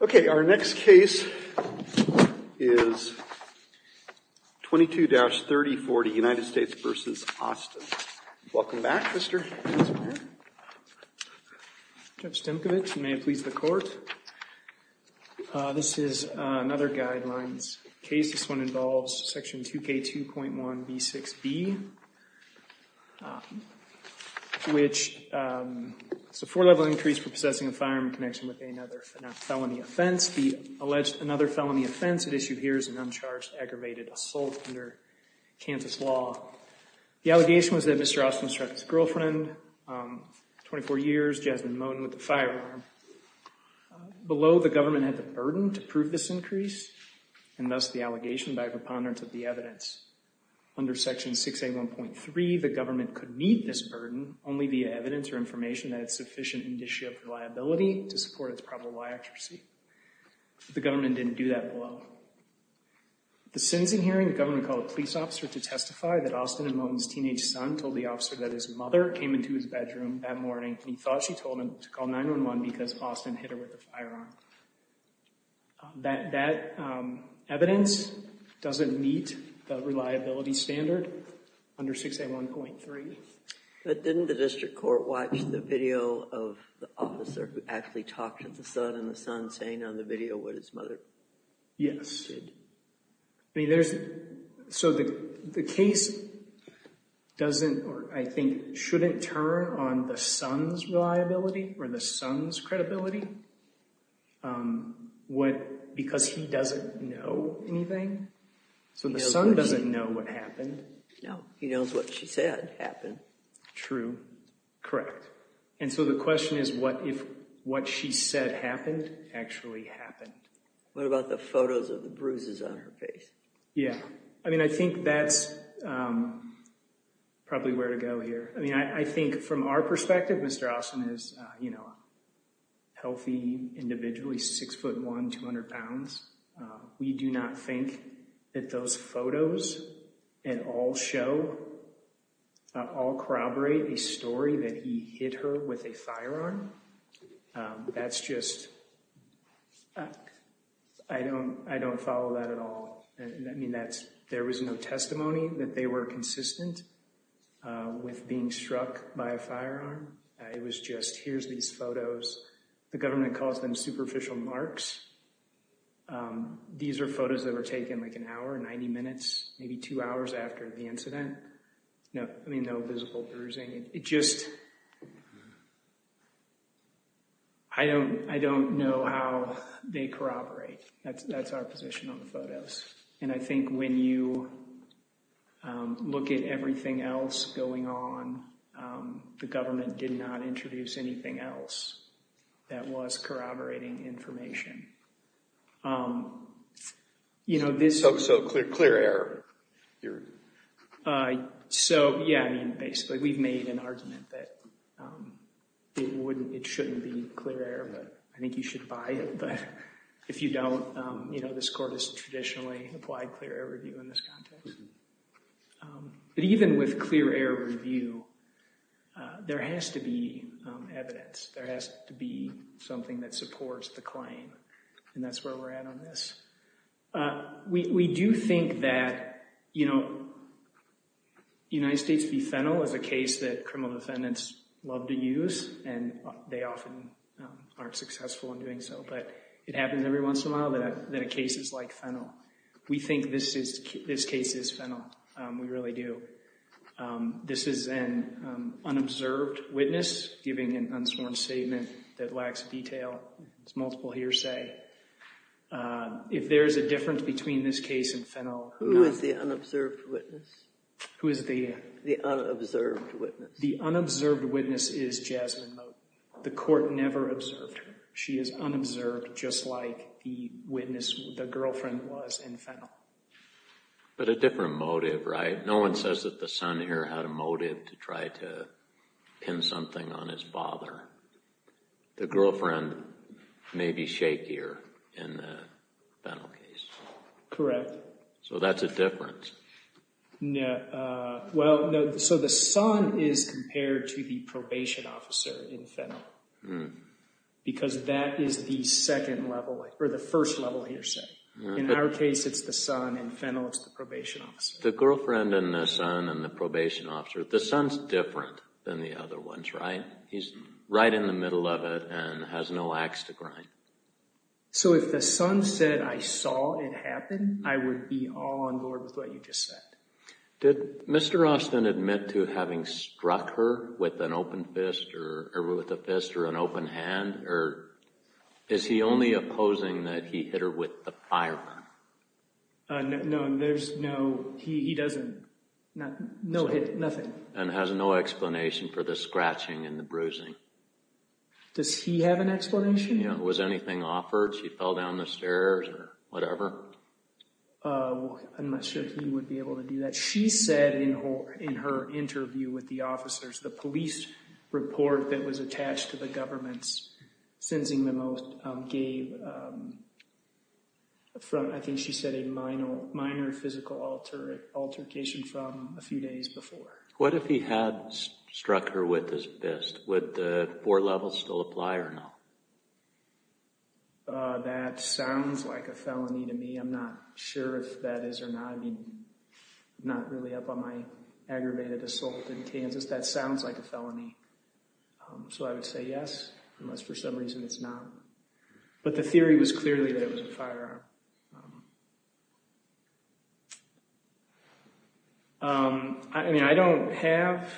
Okay, our next case is 22-3040, United States v. Austin. Welcome back, Mr. Hansen. Judge Stemkevich, you may have pleased the court. This is another guidelines case. This one involves section 2K2.1b6b, which is a four-level increase for possessing a firearm in connection with a nether. A felony offense, the alleged another felony offense at issue here is an uncharged aggravated assault under Kansas law. The allegation was that Mr. Austin struck his girlfriend 24 years, Jasmine Moten, with a firearm. Below, the government had the burden to prove this increase, and thus the allegation by a preponderance of the evidence. Under section 681.3, the government could meet this burden only via evidence or information that had sufficient indicia of reliability to support its probable liability. The government didn't do that below. The sentencing hearing, the government called a police officer to testify that Austin and Moten's teenage son told the officer that his mother came into his bedroom that morning, and he thought she told him to call 911 because Austin hit her with a firearm. That evidence doesn't meet the reliability standard under 681.3. But didn't the district court watch the video of the officer who actually talked to the son, and the son saying on the video what his mother said? Yes. So the case doesn't, or I think shouldn't turn on the son's reliability, or the son's credibility, because he doesn't know anything? So the son doesn't know what happened. No, he knows what she said happened. True, correct. And so the question is, what if what she said happened actually happened? What about the photos of the bruises on her face? Yeah, I mean, I think that's probably where to go here. I mean, I think from our perspective, Mr. Austin is, you know, healthy, individually, 6'1", 200 pounds. We do not think that those photos at all show, at all corroborate a story that he hit her with a firearm. That's just, I don't follow that at all. I mean, there was no testimony that they were consistent with being struck by a firearm. It was just, here's these photos. The government calls them superficial marks. These are photos that were taken like an hour, 90 minutes, maybe two hours after the incident. I mean, no visible bruising. It just, I don't know how they corroborate. That's our position on the photos. And I think when you look at everything else going on, the government did not introduce anything else that was corroborating information. So, clear error. So, yeah, I mean, basically, we've made an argument that it shouldn't be clear error, but I think you should buy it. But if you don't, you know, this court has traditionally applied clear error review in this context. But even with clear error review, there has to be evidence. There has to be something that supports the claim, and that's where we're at on this. We do think that, you know, United States v. Fennell is a case that criminal defendants love to use, and they often aren't successful in doing so. But it happens every once in a while that a case is like Fennell. We think this case is Fennell. We really do. This is an unobserved witness giving an unsworn statement that lacks detail. It's multiple hearsay. If there is a difference between this case and Fennell— Who is the unobserved witness? Who is the— The unobserved witness. The unobserved witness is Jasmine Moten. The court never observed her. She is unobserved, just like the witness, the girlfriend was in Fennell. But a different motive, right? No one says that the son here had a motive to try to pin something on his father. The girlfriend may be shakier in the Fennell case. Correct. So that's a difference. Well, no. So the son is compared to the probation officer in Fennell because that is the second level, or the first level of hearsay. In our case, it's the son. In Fennell, it's the probation officer. It's the girlfriend and the son and the probation officer. The son's different than the other ones, right? He's right in the middle of it and has no axe to grind. So if the son said, I saw it happen, I would be all on board with what you just said. Did Mr. Austin admit to having struck her with an open fist or with a fist or an open hand? Or is he only opposing that he hit her with the firearm? No, he doesn't. No hit, nothing. And has no explanation for the scratching and the bruising. Does he have an explanation? Yeah. Was anything offered? She fell down the stairs or whatever? I'm not sure he would be able to do that. What she said in her interview with the officers, the police report that was attached to the government's sentencing memo, gave, I think she said, a minor physical altercation from a few days before. What if he had struck her with his fist? Would the four levels still apply or no? That sounds like a felony to me. I'm not sure if that is or not. I mean, not really up on my aggravated assault in Kansas. That sounds like a felony. So I would say yes, unless for some reason it's not. But the theory was clearly that it was a firearm. I mean, I don't have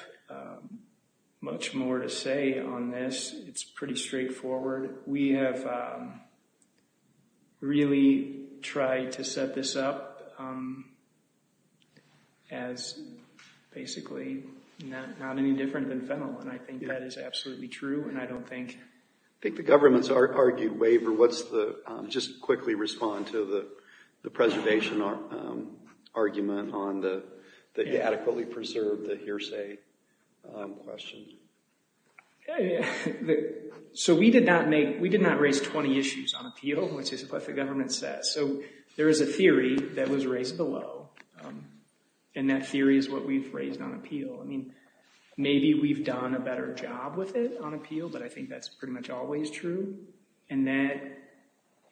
much more to say on this. It's pretty straightforward. We have really tried to set this up as basically not any different than fennel. And I think that is absolutely true. And I don't think— I think the government's argued waiver. Just quickly respond to the preservation argument on the adequately preserved hearsay question. Okay. So we did not make—we did not raise 20 issues on appeal, which is what the government says. So there is a theory that was raised below, and that theory is what we've raised on appeal. I mean, maybe we've done a better job with it on appeal, but I think that's pretty much always true. And that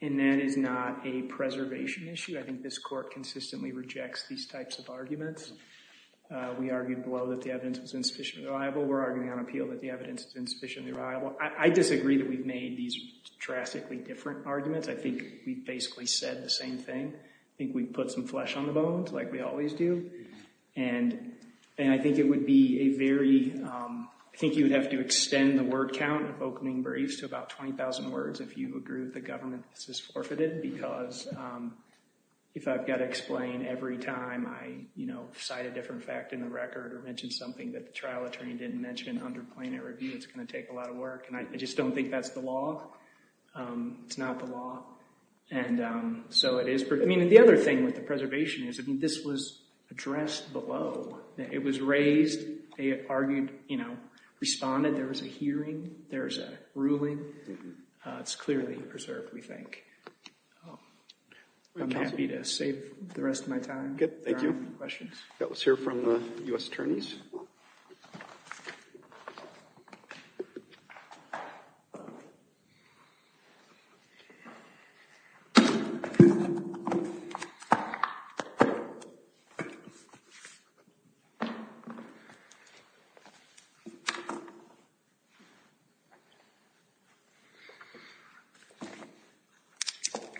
is not a preservation issue. I think this court consistently rejects these types of arguments. We argued below that the evidence was insufficiently reliable. We're arguing on appeal that the evidence is insufficiently reliable. I disagree that we've made these drastically different arguments. I think we've basically said the same thing. I think we've put some flesh on the bones, like we always do. And I think it would be a very—I think you would have to extend the word count of opening briefs to about 20,000 words if you agree with the government that this is forfeited, because if I've got to explain every time I, you know, provide a different fact in the record or mention something that the trial attorney didn't mention under plaintiff review, it's going to take a lot of work. And I just don't think that's the law. It's not the law. And so it is—I mean, the other thing with the preservation is, I mean, this was addressed below. It was raised. They argued, you know, responded. There was a hearing. There was a ruling. It's clearly preserved, we think. I'm happy to save the rest of my time. Thank you. Questions? Let's hear from the U.S. attorneys.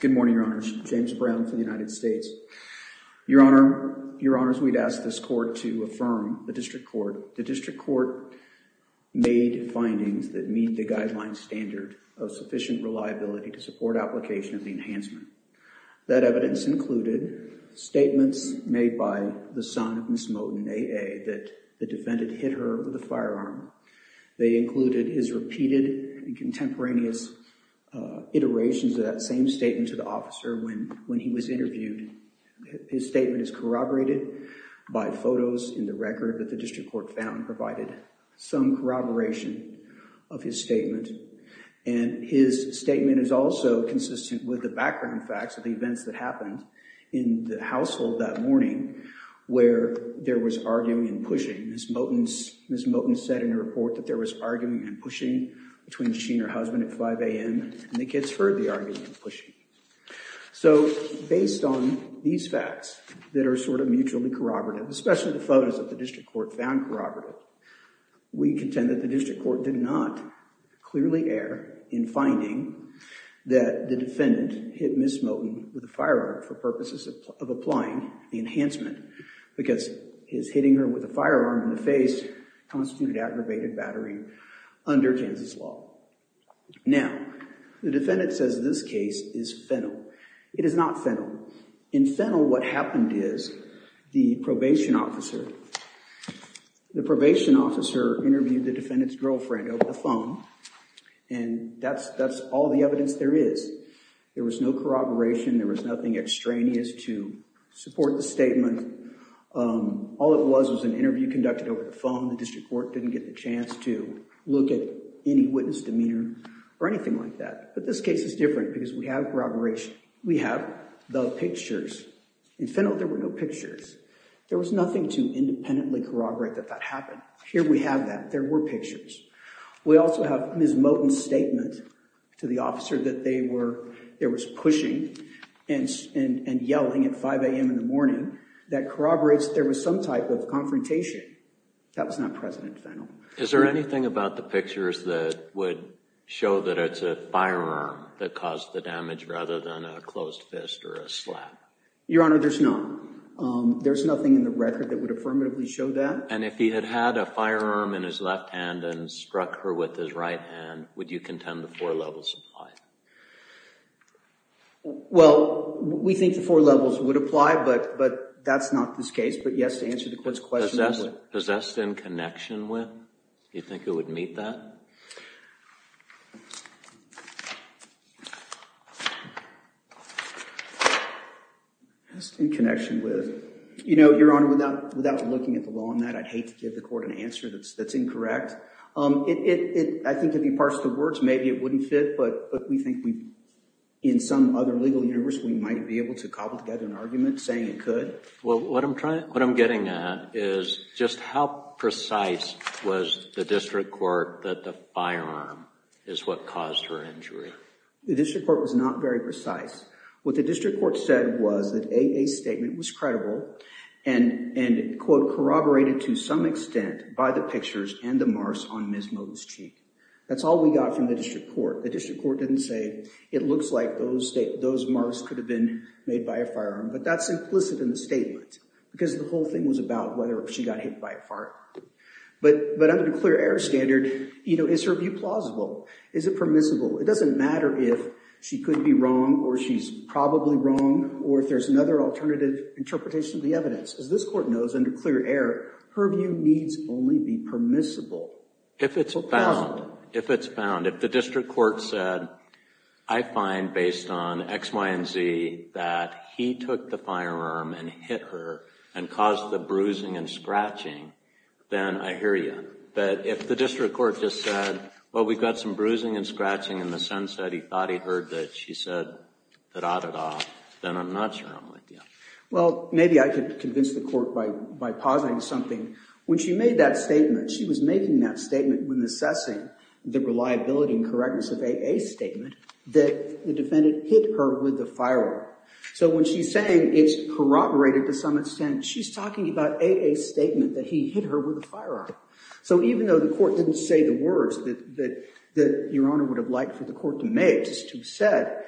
Good morning, Your Honors. James Brown for the United States. Your Honors, we'd ask this court to affirm the district court. The district court made findings that meet the guideline standard of sufficient reliability to support application of the enhancement. That evidence included statements made by the son of Ms. Moten, A.A., that the defendant hit her with a firearm. They included his repeated and contemporaneous iterations of that same statement to the officer when he was interviewed. His statement is corroborated by photos in the record that the district court found provided some corroboration of his statement. And his statement is also consistent with the background facts of the events that happened in the household that morning where there was arguing and pushing. Ms. Moten said in her report that there was arguing and pushing between she and her husband at 5 a.m. And the kids heard the arguing and pushing. So based on these facts that are sort of mutually corroborative, especially the photos that the district court found corroborative, we contend that the district court did not clearly err in finding that the defendant hit Ms. Moten with a firearm for purposes of applying the enhancement because his hitting her with a firearm in the face constituted aggravated battery under Kansas law. Now, the defendant says this case is fennel. It is not fennel. In fennel, what happened is the probation officer interviewed the defendant's girlfriend over the phone, and that's all the evidence there is. There was no corroboration. There was nothing extraneous to support the statement. All it was was an interview conducted over the phone. The district court didn't get the chance to look at any witness demeanor or anything like that. But this case is different because we have corroboration. We have the pictures. In fennel, there were no pictures. There was nothing to independently corroborate that that happened. Here we have that. There were pictures. We also have Ms. Moten's statement to the officer that there was pushing and yelling at 5 a.m. in the morning that corroborates there was some type of confrontation. That was not present in fennel. Is there anything about the pictures that would show that it's a firearm that caused the damage rather than a closed fist or a slap? Your Honor, there's none. There's nothing in the record that would affirmatively show that. And if he had had a firearm in his left hand and struck her with his right hand, would you contend the four levels apply? Well, we think the four levels would apply, but that's not this case. But yes, to answer the court's question. Possessed in connection with? Do you think it would meet that? Possessed in connection with. You know, Your Honor, without looking at the law on that, I'd hate to give the court an answer that's incorrect. I think if you parsed the words, maybe it wouldn't fit, but we think in some other legal universe we might be able to cobble together an argument saying it could. Well, what I'm getting at is just how precise was the district court that the firearm is what caused her injury? The district court was not very precise. What the district court said was that AA's statement was credible and, quote, corroborated to some extent by the pictures and the marks on Ms. Moody's cheek. That's all we got from the district court. The district court didn't say it looks like those marks could have been made by a firearm. But that's implicit in the statement because the whole thing was about whether she got hit by a fart. But under the clear error standard, you know, is her view plausible? Is it permissible? It doesn't matter if she could be wrong or she's probably wrong or if there's another alternative interpretation of the evidence. As this court knows, under clear error, her view needs only be permissible. If it's found, if it's found, if the district court said, I find based on X, Y, and Z that he took the firearm and hit her and caused the bruising and scratching, then I hear you. But if the district court just said, well, we've got some bruising and scratching in the sense that he thought he'd heard that she said da-da-da, then I'm not sure I'm with you. Well, maybe I could convince the court by positing something. When she made that statement, she was making that statement when assessing the reliability and correctness of AA's statement that the defendant hit her with a firearm. So when she's saying it's corroborated to some extent, she's talking about AA's statement that he hit her with a firearm. So even though the court didn't say the words that Your Honor would have liked for the court to make, just to be said,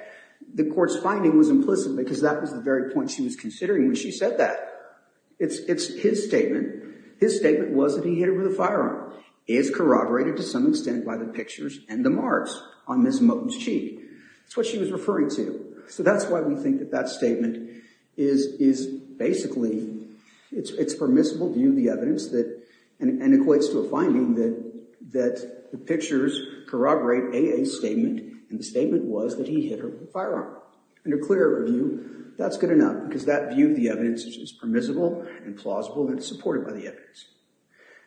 the court's finding was implicit because that was the very point she was considering when she said that. It's his statement. His statement was that he hit her with a firearm. It is corroborated to some extent by the pictures and the marks on Ms. Moten's cheek. That's what she was referring to. So that's why we think that that statement is basically, it's permissible view of the evidence and equates to a finding that the pictures corroborate AA's statement and the statement was that he hit her with a firearm. In a clear view, that's good enough because that view of the evidence is permissible and plausible and supported by the evidence.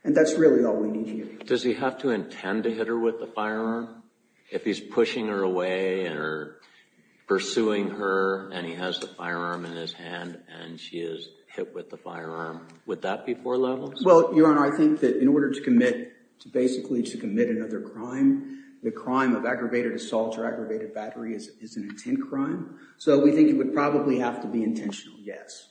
And that's really all we need here. Does he have to intend to hit her with a firearm if he's pushing her away and pursuing her and he has the firearm in his hand and she is hit with the firearm? Would that be four levels? Well, Your Honor, I think that in order to commit, basically to commit another crime, the crime of aggravated assault or aggravated battery is an intent crime. So we think it would probably have to be intentional, yes.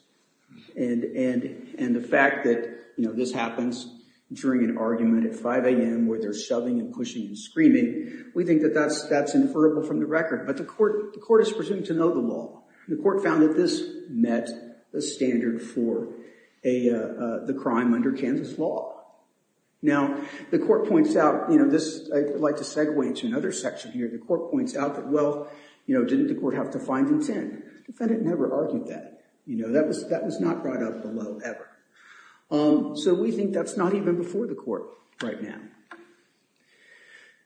And the fact that this happens during an argument at 5 a.m. where they're shoving and pushing and screaming, we think that that's inferable from the record. But the court is presumed to know the law. The court found that this met the standard for the crime under Kansas law. Now, the court points out, I'd like to segue to another section here. The court points out that, well, didn't the court have to find intent? The defendant never argued that. That was not brought up below ever. So we think that's not even before the court right now.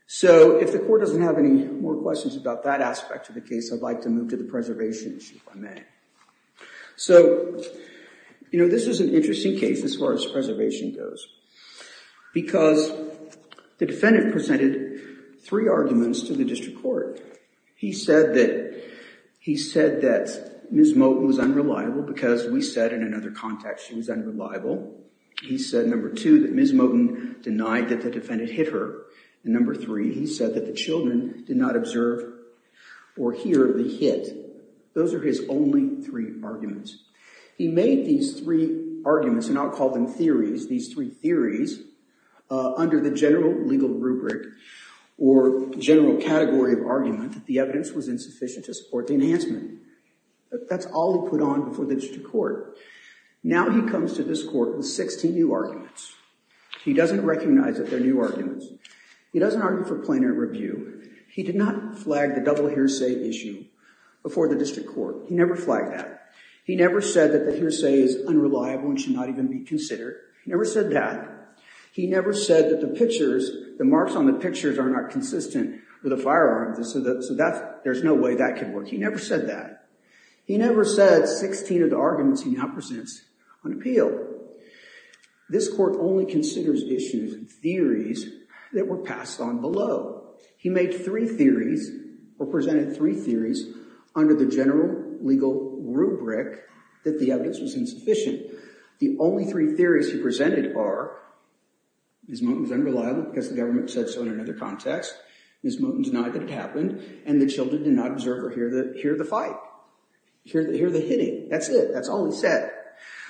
So if the court doesn't have any more questions about that aspect of the case, I'd like to move to the preservation issue, if I may. So this is an interesting case as far as preservation goes because the defendant presented three arguments to the district court. He said that Ms. Moten was unreliable because we said in another context she was unreliable. He said, number two, that Ms. Moten denied that the defendant hit her. And number three, he said that the children did not observe or hear the hit. Those are his only three arguments. He made these three arguments, and I'll call them theories, these three theories, under the general legal rubric or general category of argument that the evidence was insufficient to support the enhancement. That's all he put on before the district court. Now he comes to this court with 16 new arguments. He doesn't recognize that they're new arguments. He doesn't argue for plaintiff review. He did not flag the double hearsay issue before the district court. He never flagged that. He never said that the hearsay is unreliable and should not even be considered. He never said that. He never said that the pictures, the marks on the pictures are not consistent with the firearms, so there's no way that could work. He never said that. He never said 16 of the arguments he now presents on appeal. This court only considers issues and theories that were passed on below. He made three theories or presented three theories under the general legal rubric that the evidence was insufficient. The only three theories he presented are Ms. Moten was unreliable because the government said so in another context. Ms. Moten denied that it happened, and the children did not observe or hear the fight, hear the hitting. That's it. That's all he said.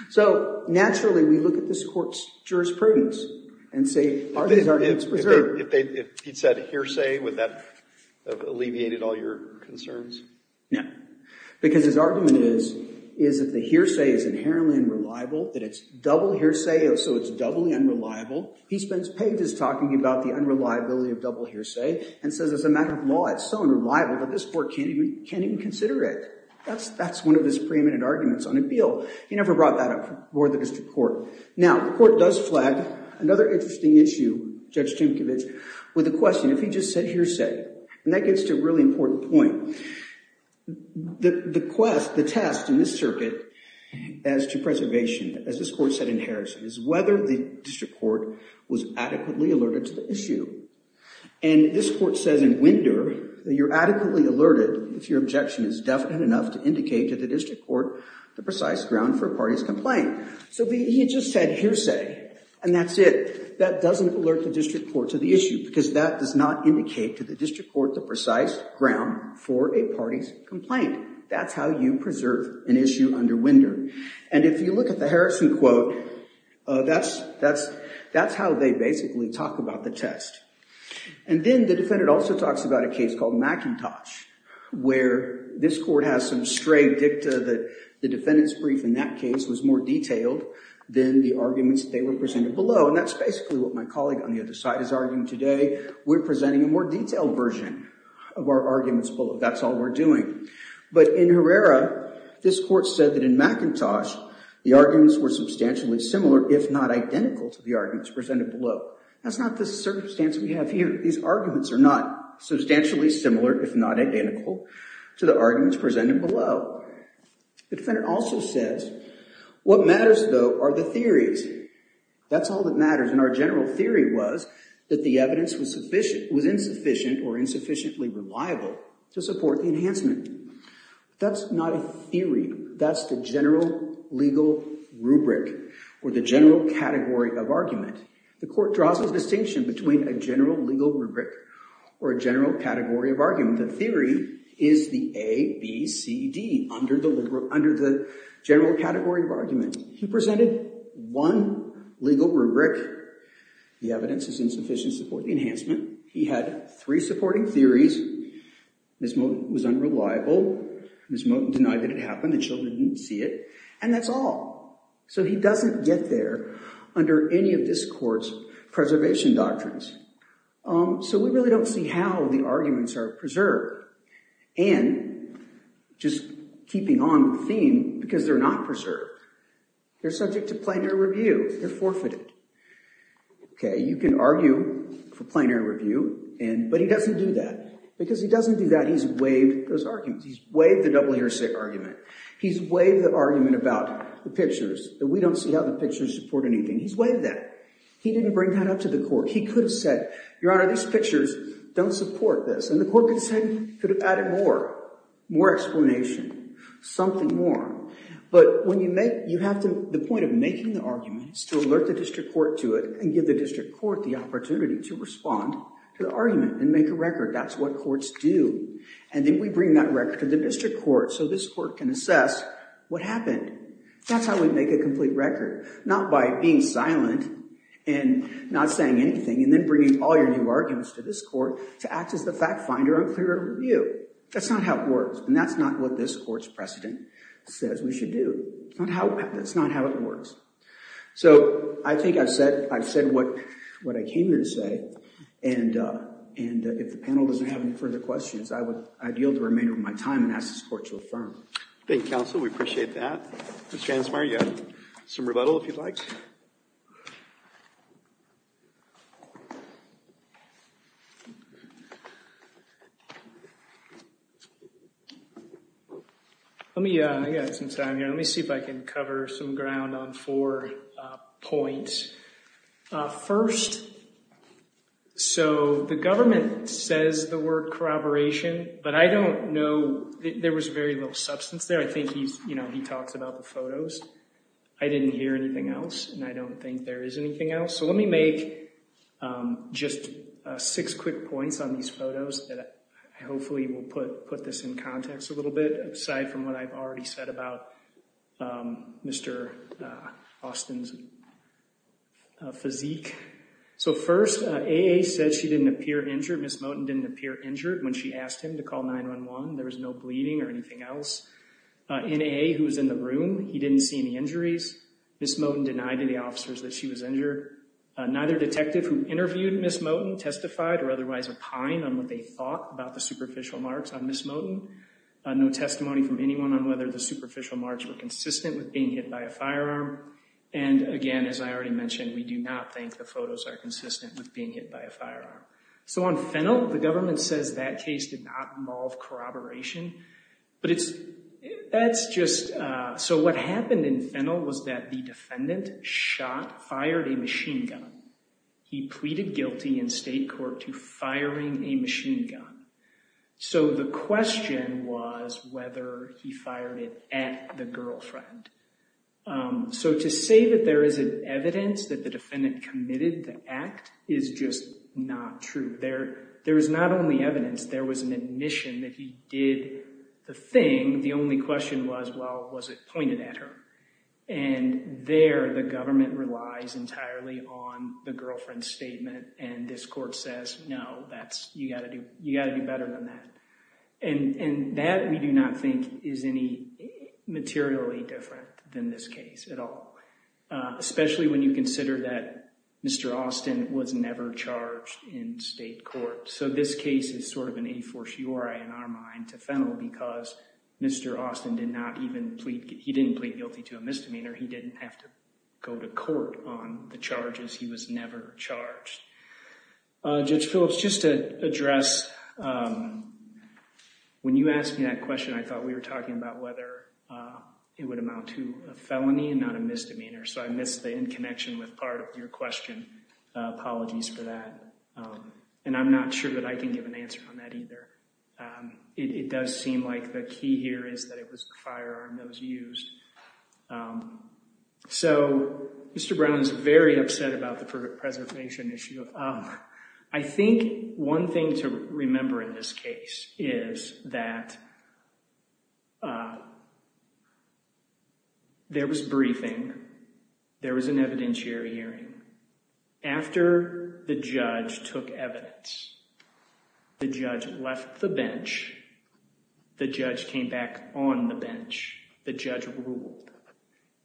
So naturally, we look at this court's jurisprudence and say, are these arguments preserved? If he'd said hearsay, would that have alleviated all your concerns? No, because his argument is that the hearsay is inherently unreliable, that it's double hearsay, so it's doubly unreliable. He spends pages talking about the unreliability of double hearsay and says as a matter of law, it's so unreliable that this court can't even consider it. That's one of his preeminent arguments on appeal. He never brought that up before the district court. Now, the court does flag another interesting issue, Judge Tinkovich, with a question. If he just said hearsay, and that gets to a really important point, the quest, the test in this circuit as to preservation, as this court said in Harrison, is whether the district court was adequately alerted to the issue. And this court says in Gwinder that you're adequately alerted if your objection is definite enough to indicate to the district court the precise ground for a party's complaint. So he just said hearsay, and that's it. That doesn't alert the district court to the issue, because that does not indicate to the district court the precise ground for a party's complaint. That's how you preserve an issue under Gwinder. And if you look at the Harrison quote, that's how they basically talk about the test. And then the defendant also talks about a case called McIntosh, where this court has some stray dicta that the defendant's brief in that case was more detailed than the arguments they were presented below. And that's basically what my colleague on the other side is arguing today. We're presenting a more detailed version of our arguments below. That's all we're doing. But in Herrera, this court said that in McIntosh, the arguments were substantially similar, if not identical, to the arguments presented below. That's not the circumstance we have here. These arguments are not substantially similar, if not identical, to the arguments presented below. The defendant also says, what matters, though, are the theories. That's all that matters. And our general theory was that the evidence was insufficient or insufficiently reliable to support the enhancement. That's not a theory. That's the general legal rubric, or the general category of argument. The court draws a distinction between a general legal rubric or a general category of argument. The theory is the A, B, C, D under the general category of argument. He presented one legal rubric. The evidence is insufficient to support the enhancement. He had three supporting theories. Ms. Moten was unreliable. Ms. Moten denied that it happened. The children didn't see it. And that's all. So he doesn't get there under any of this court's preservation doctrines. So we really don't see how the arguments are preserved. And, just keeping on the theme, because they're not preserved, they're subject to plenary review. They're forfeited. OK, you can argue for plenary review, but he doesn't do that. Because he doesn't do that, he's waived those arguments. He's waived the double-hearsay argument. He's waived the argument about the pictures, that we don't see how the pictures support anything. He's waived that. He didn't bring that up to the court. He could have said, Your Honor, these pictures don't support this. And the court could have said, could have added more, more explanation, something more. But when you make, you have to, the point of making the argument is to alert the district court to it and give the district court the opportunity to respond to the argument and make a record. That's what courts do. And then we bring that record to the district court so this court can assess what happened. That's how we make a complete record. Not by being silent and not saying anything and then bringing all your new arguments to this court to act as the fact finder on clear review. That's not how it works. And that's not what this court's precedent says we should do. That's not how it works. So, I think I've said what I came here to say. And if the panel doesn't have any further questions, I would yield the remainder of my time and ask this court to affirm. Thank you, counsel. We appreciate that. Mr. Ansmeyer, you have some rebuttal if you'd like. Let me, I've got some time here. Let me see if I can cover some ground on four points. First, so the government says the word corroboration, but I don't know, there was very little substance there. I think he's, you know, he talks about the photos. I didn't hear anything else, and I don't think there is anything else. So let me make just six quick points on these photos that hopefully will put this in context a little bit, aside from what I've already said about Mr. Austin's physique. So first, A.A. said she didn't appear injured. Ms. Moten didn't appear injured when she asked him to call 911. There was no bleeding or anything else. N.A.A., who was in the room, he didn't see any injuries. Ms. Moten denied to the officers that she was injured. Neither detective who interviewed Ms. Moten testified or otherwise opined on what they thought about the superficial marks on Ms. Moten. No testimony from anyone on whether the superficial marks were consistent with being hit by a firearm. And again, as I already mentioned, we do not think the photos are consistent with being hit by a firearm. So on Fennell, the government says that case did not involve corroboration. But it's, that's just, so what happened in Fennell was that the defendant shot, fired a machine gun. He pleaded guilty in state court to firing a machine gun. So the question was whether he fired it at the girlfriend. So to say that there is evidence that the defendant committed the act is just not true. There is not only evidence. There was an admission that he did the thing. The only question was, well, was it pointed at her? And this court says, no, that's, you got to do, you got to do better than that. And that we do not think is any materially different than this case at all. Especially when you consider that Mr. Austin was never charged in state court. So this case is sort of an a fortiori in our mind to Fennell because Mr. Austin did not even plead, he didn't plead guilty to a misdemeanor. He didn't have to go to court on the charges. He was never charged. Judge Phillips, just to address, when you asked me that question, I thought we were talking about whether it would amount to a felony and not a misdemeanor. So I missed the in connection with part of your question. Apologies for that. And I'm not sure that I can give an answer on that either. It does seem like the key here is that it was the firearm that was used. So Mr. Brown is very upset about the preservation issue. I think one thing to remember in this case is that there was briefing, there was an evidentiary hearing. After the judge took evidence, the judge left the bench. The judge came back on the bench. The judge ruled.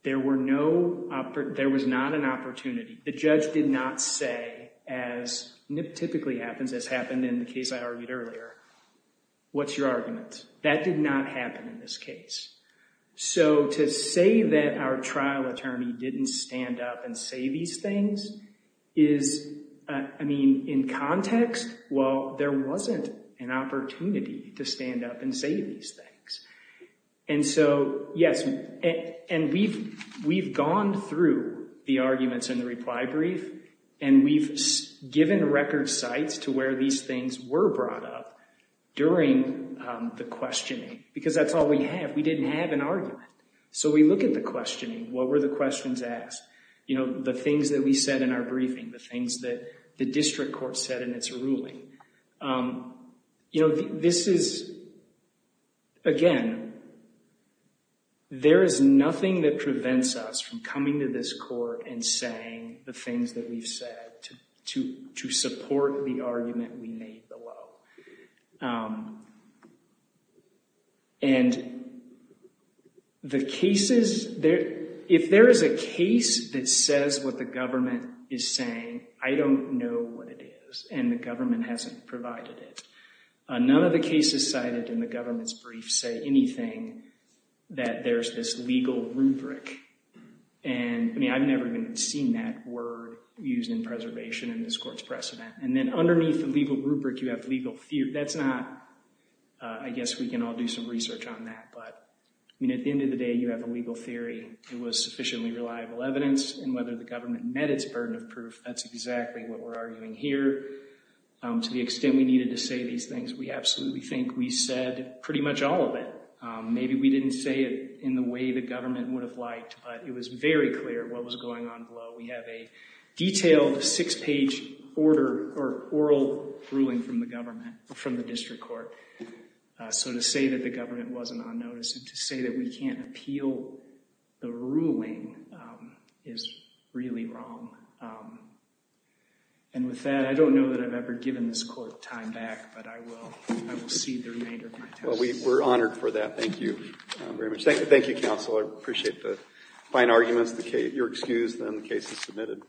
There was not an opportunity. The judge did not say, as typically happens, as happened in the case I argued earlier, what's your argument? That did not happen in this case. So to say that our trial attorney didn't stand up and say these things is, I mean, in context, well, there wasn't an opportunity to stand up and say these things. And so, yes, and we've gone through the arguments in the reply brief, and we've given record sites to where these things were brought up during the questioning because that's all we have. We didn't have an argument. So we look at the questioning. What were the questions asked? The things that we said in our briefing, the things that the district court said in its ruling. This is, again, there is nothing that prevents us from coming to this court and saying the things that we've said to support the argument we made below. And the cases, if there is a case that says what the government is saying, I don't know what it is, and the government hasn't provided it. None of the cases cited in the government's brief say anything that there's this legal rubric. And, I mean, I've never even seen that word used in preservation in this court's precedent. And then underneath the legal rubric, you have legal theory. That's not, I guess we can all do some research on that. But, I mean, at the end of the day, you have a legal theory. It was sufficiently reliable evidence, and whether the government met its burden of proof, that's exactly what we're arguing here. To the extent we needed to say these things, we absolutely think we said pretty much all of it. Maybe we didn't say it in the way the government would have liked, but it was very clear what was going on below. We have a detailed six-page order or oral ruling from the government, from the district court. So to say that the government wasn't on notice and to say that we can't appeal the ruling is really wrong. And with that, I don't know that I've ever given this court time back, but I will cede the remainder of my time. We're honored for that. Thank you very much. Thank you, counsel. I appreciate the fine arguments. You're excused, and the case is submitted.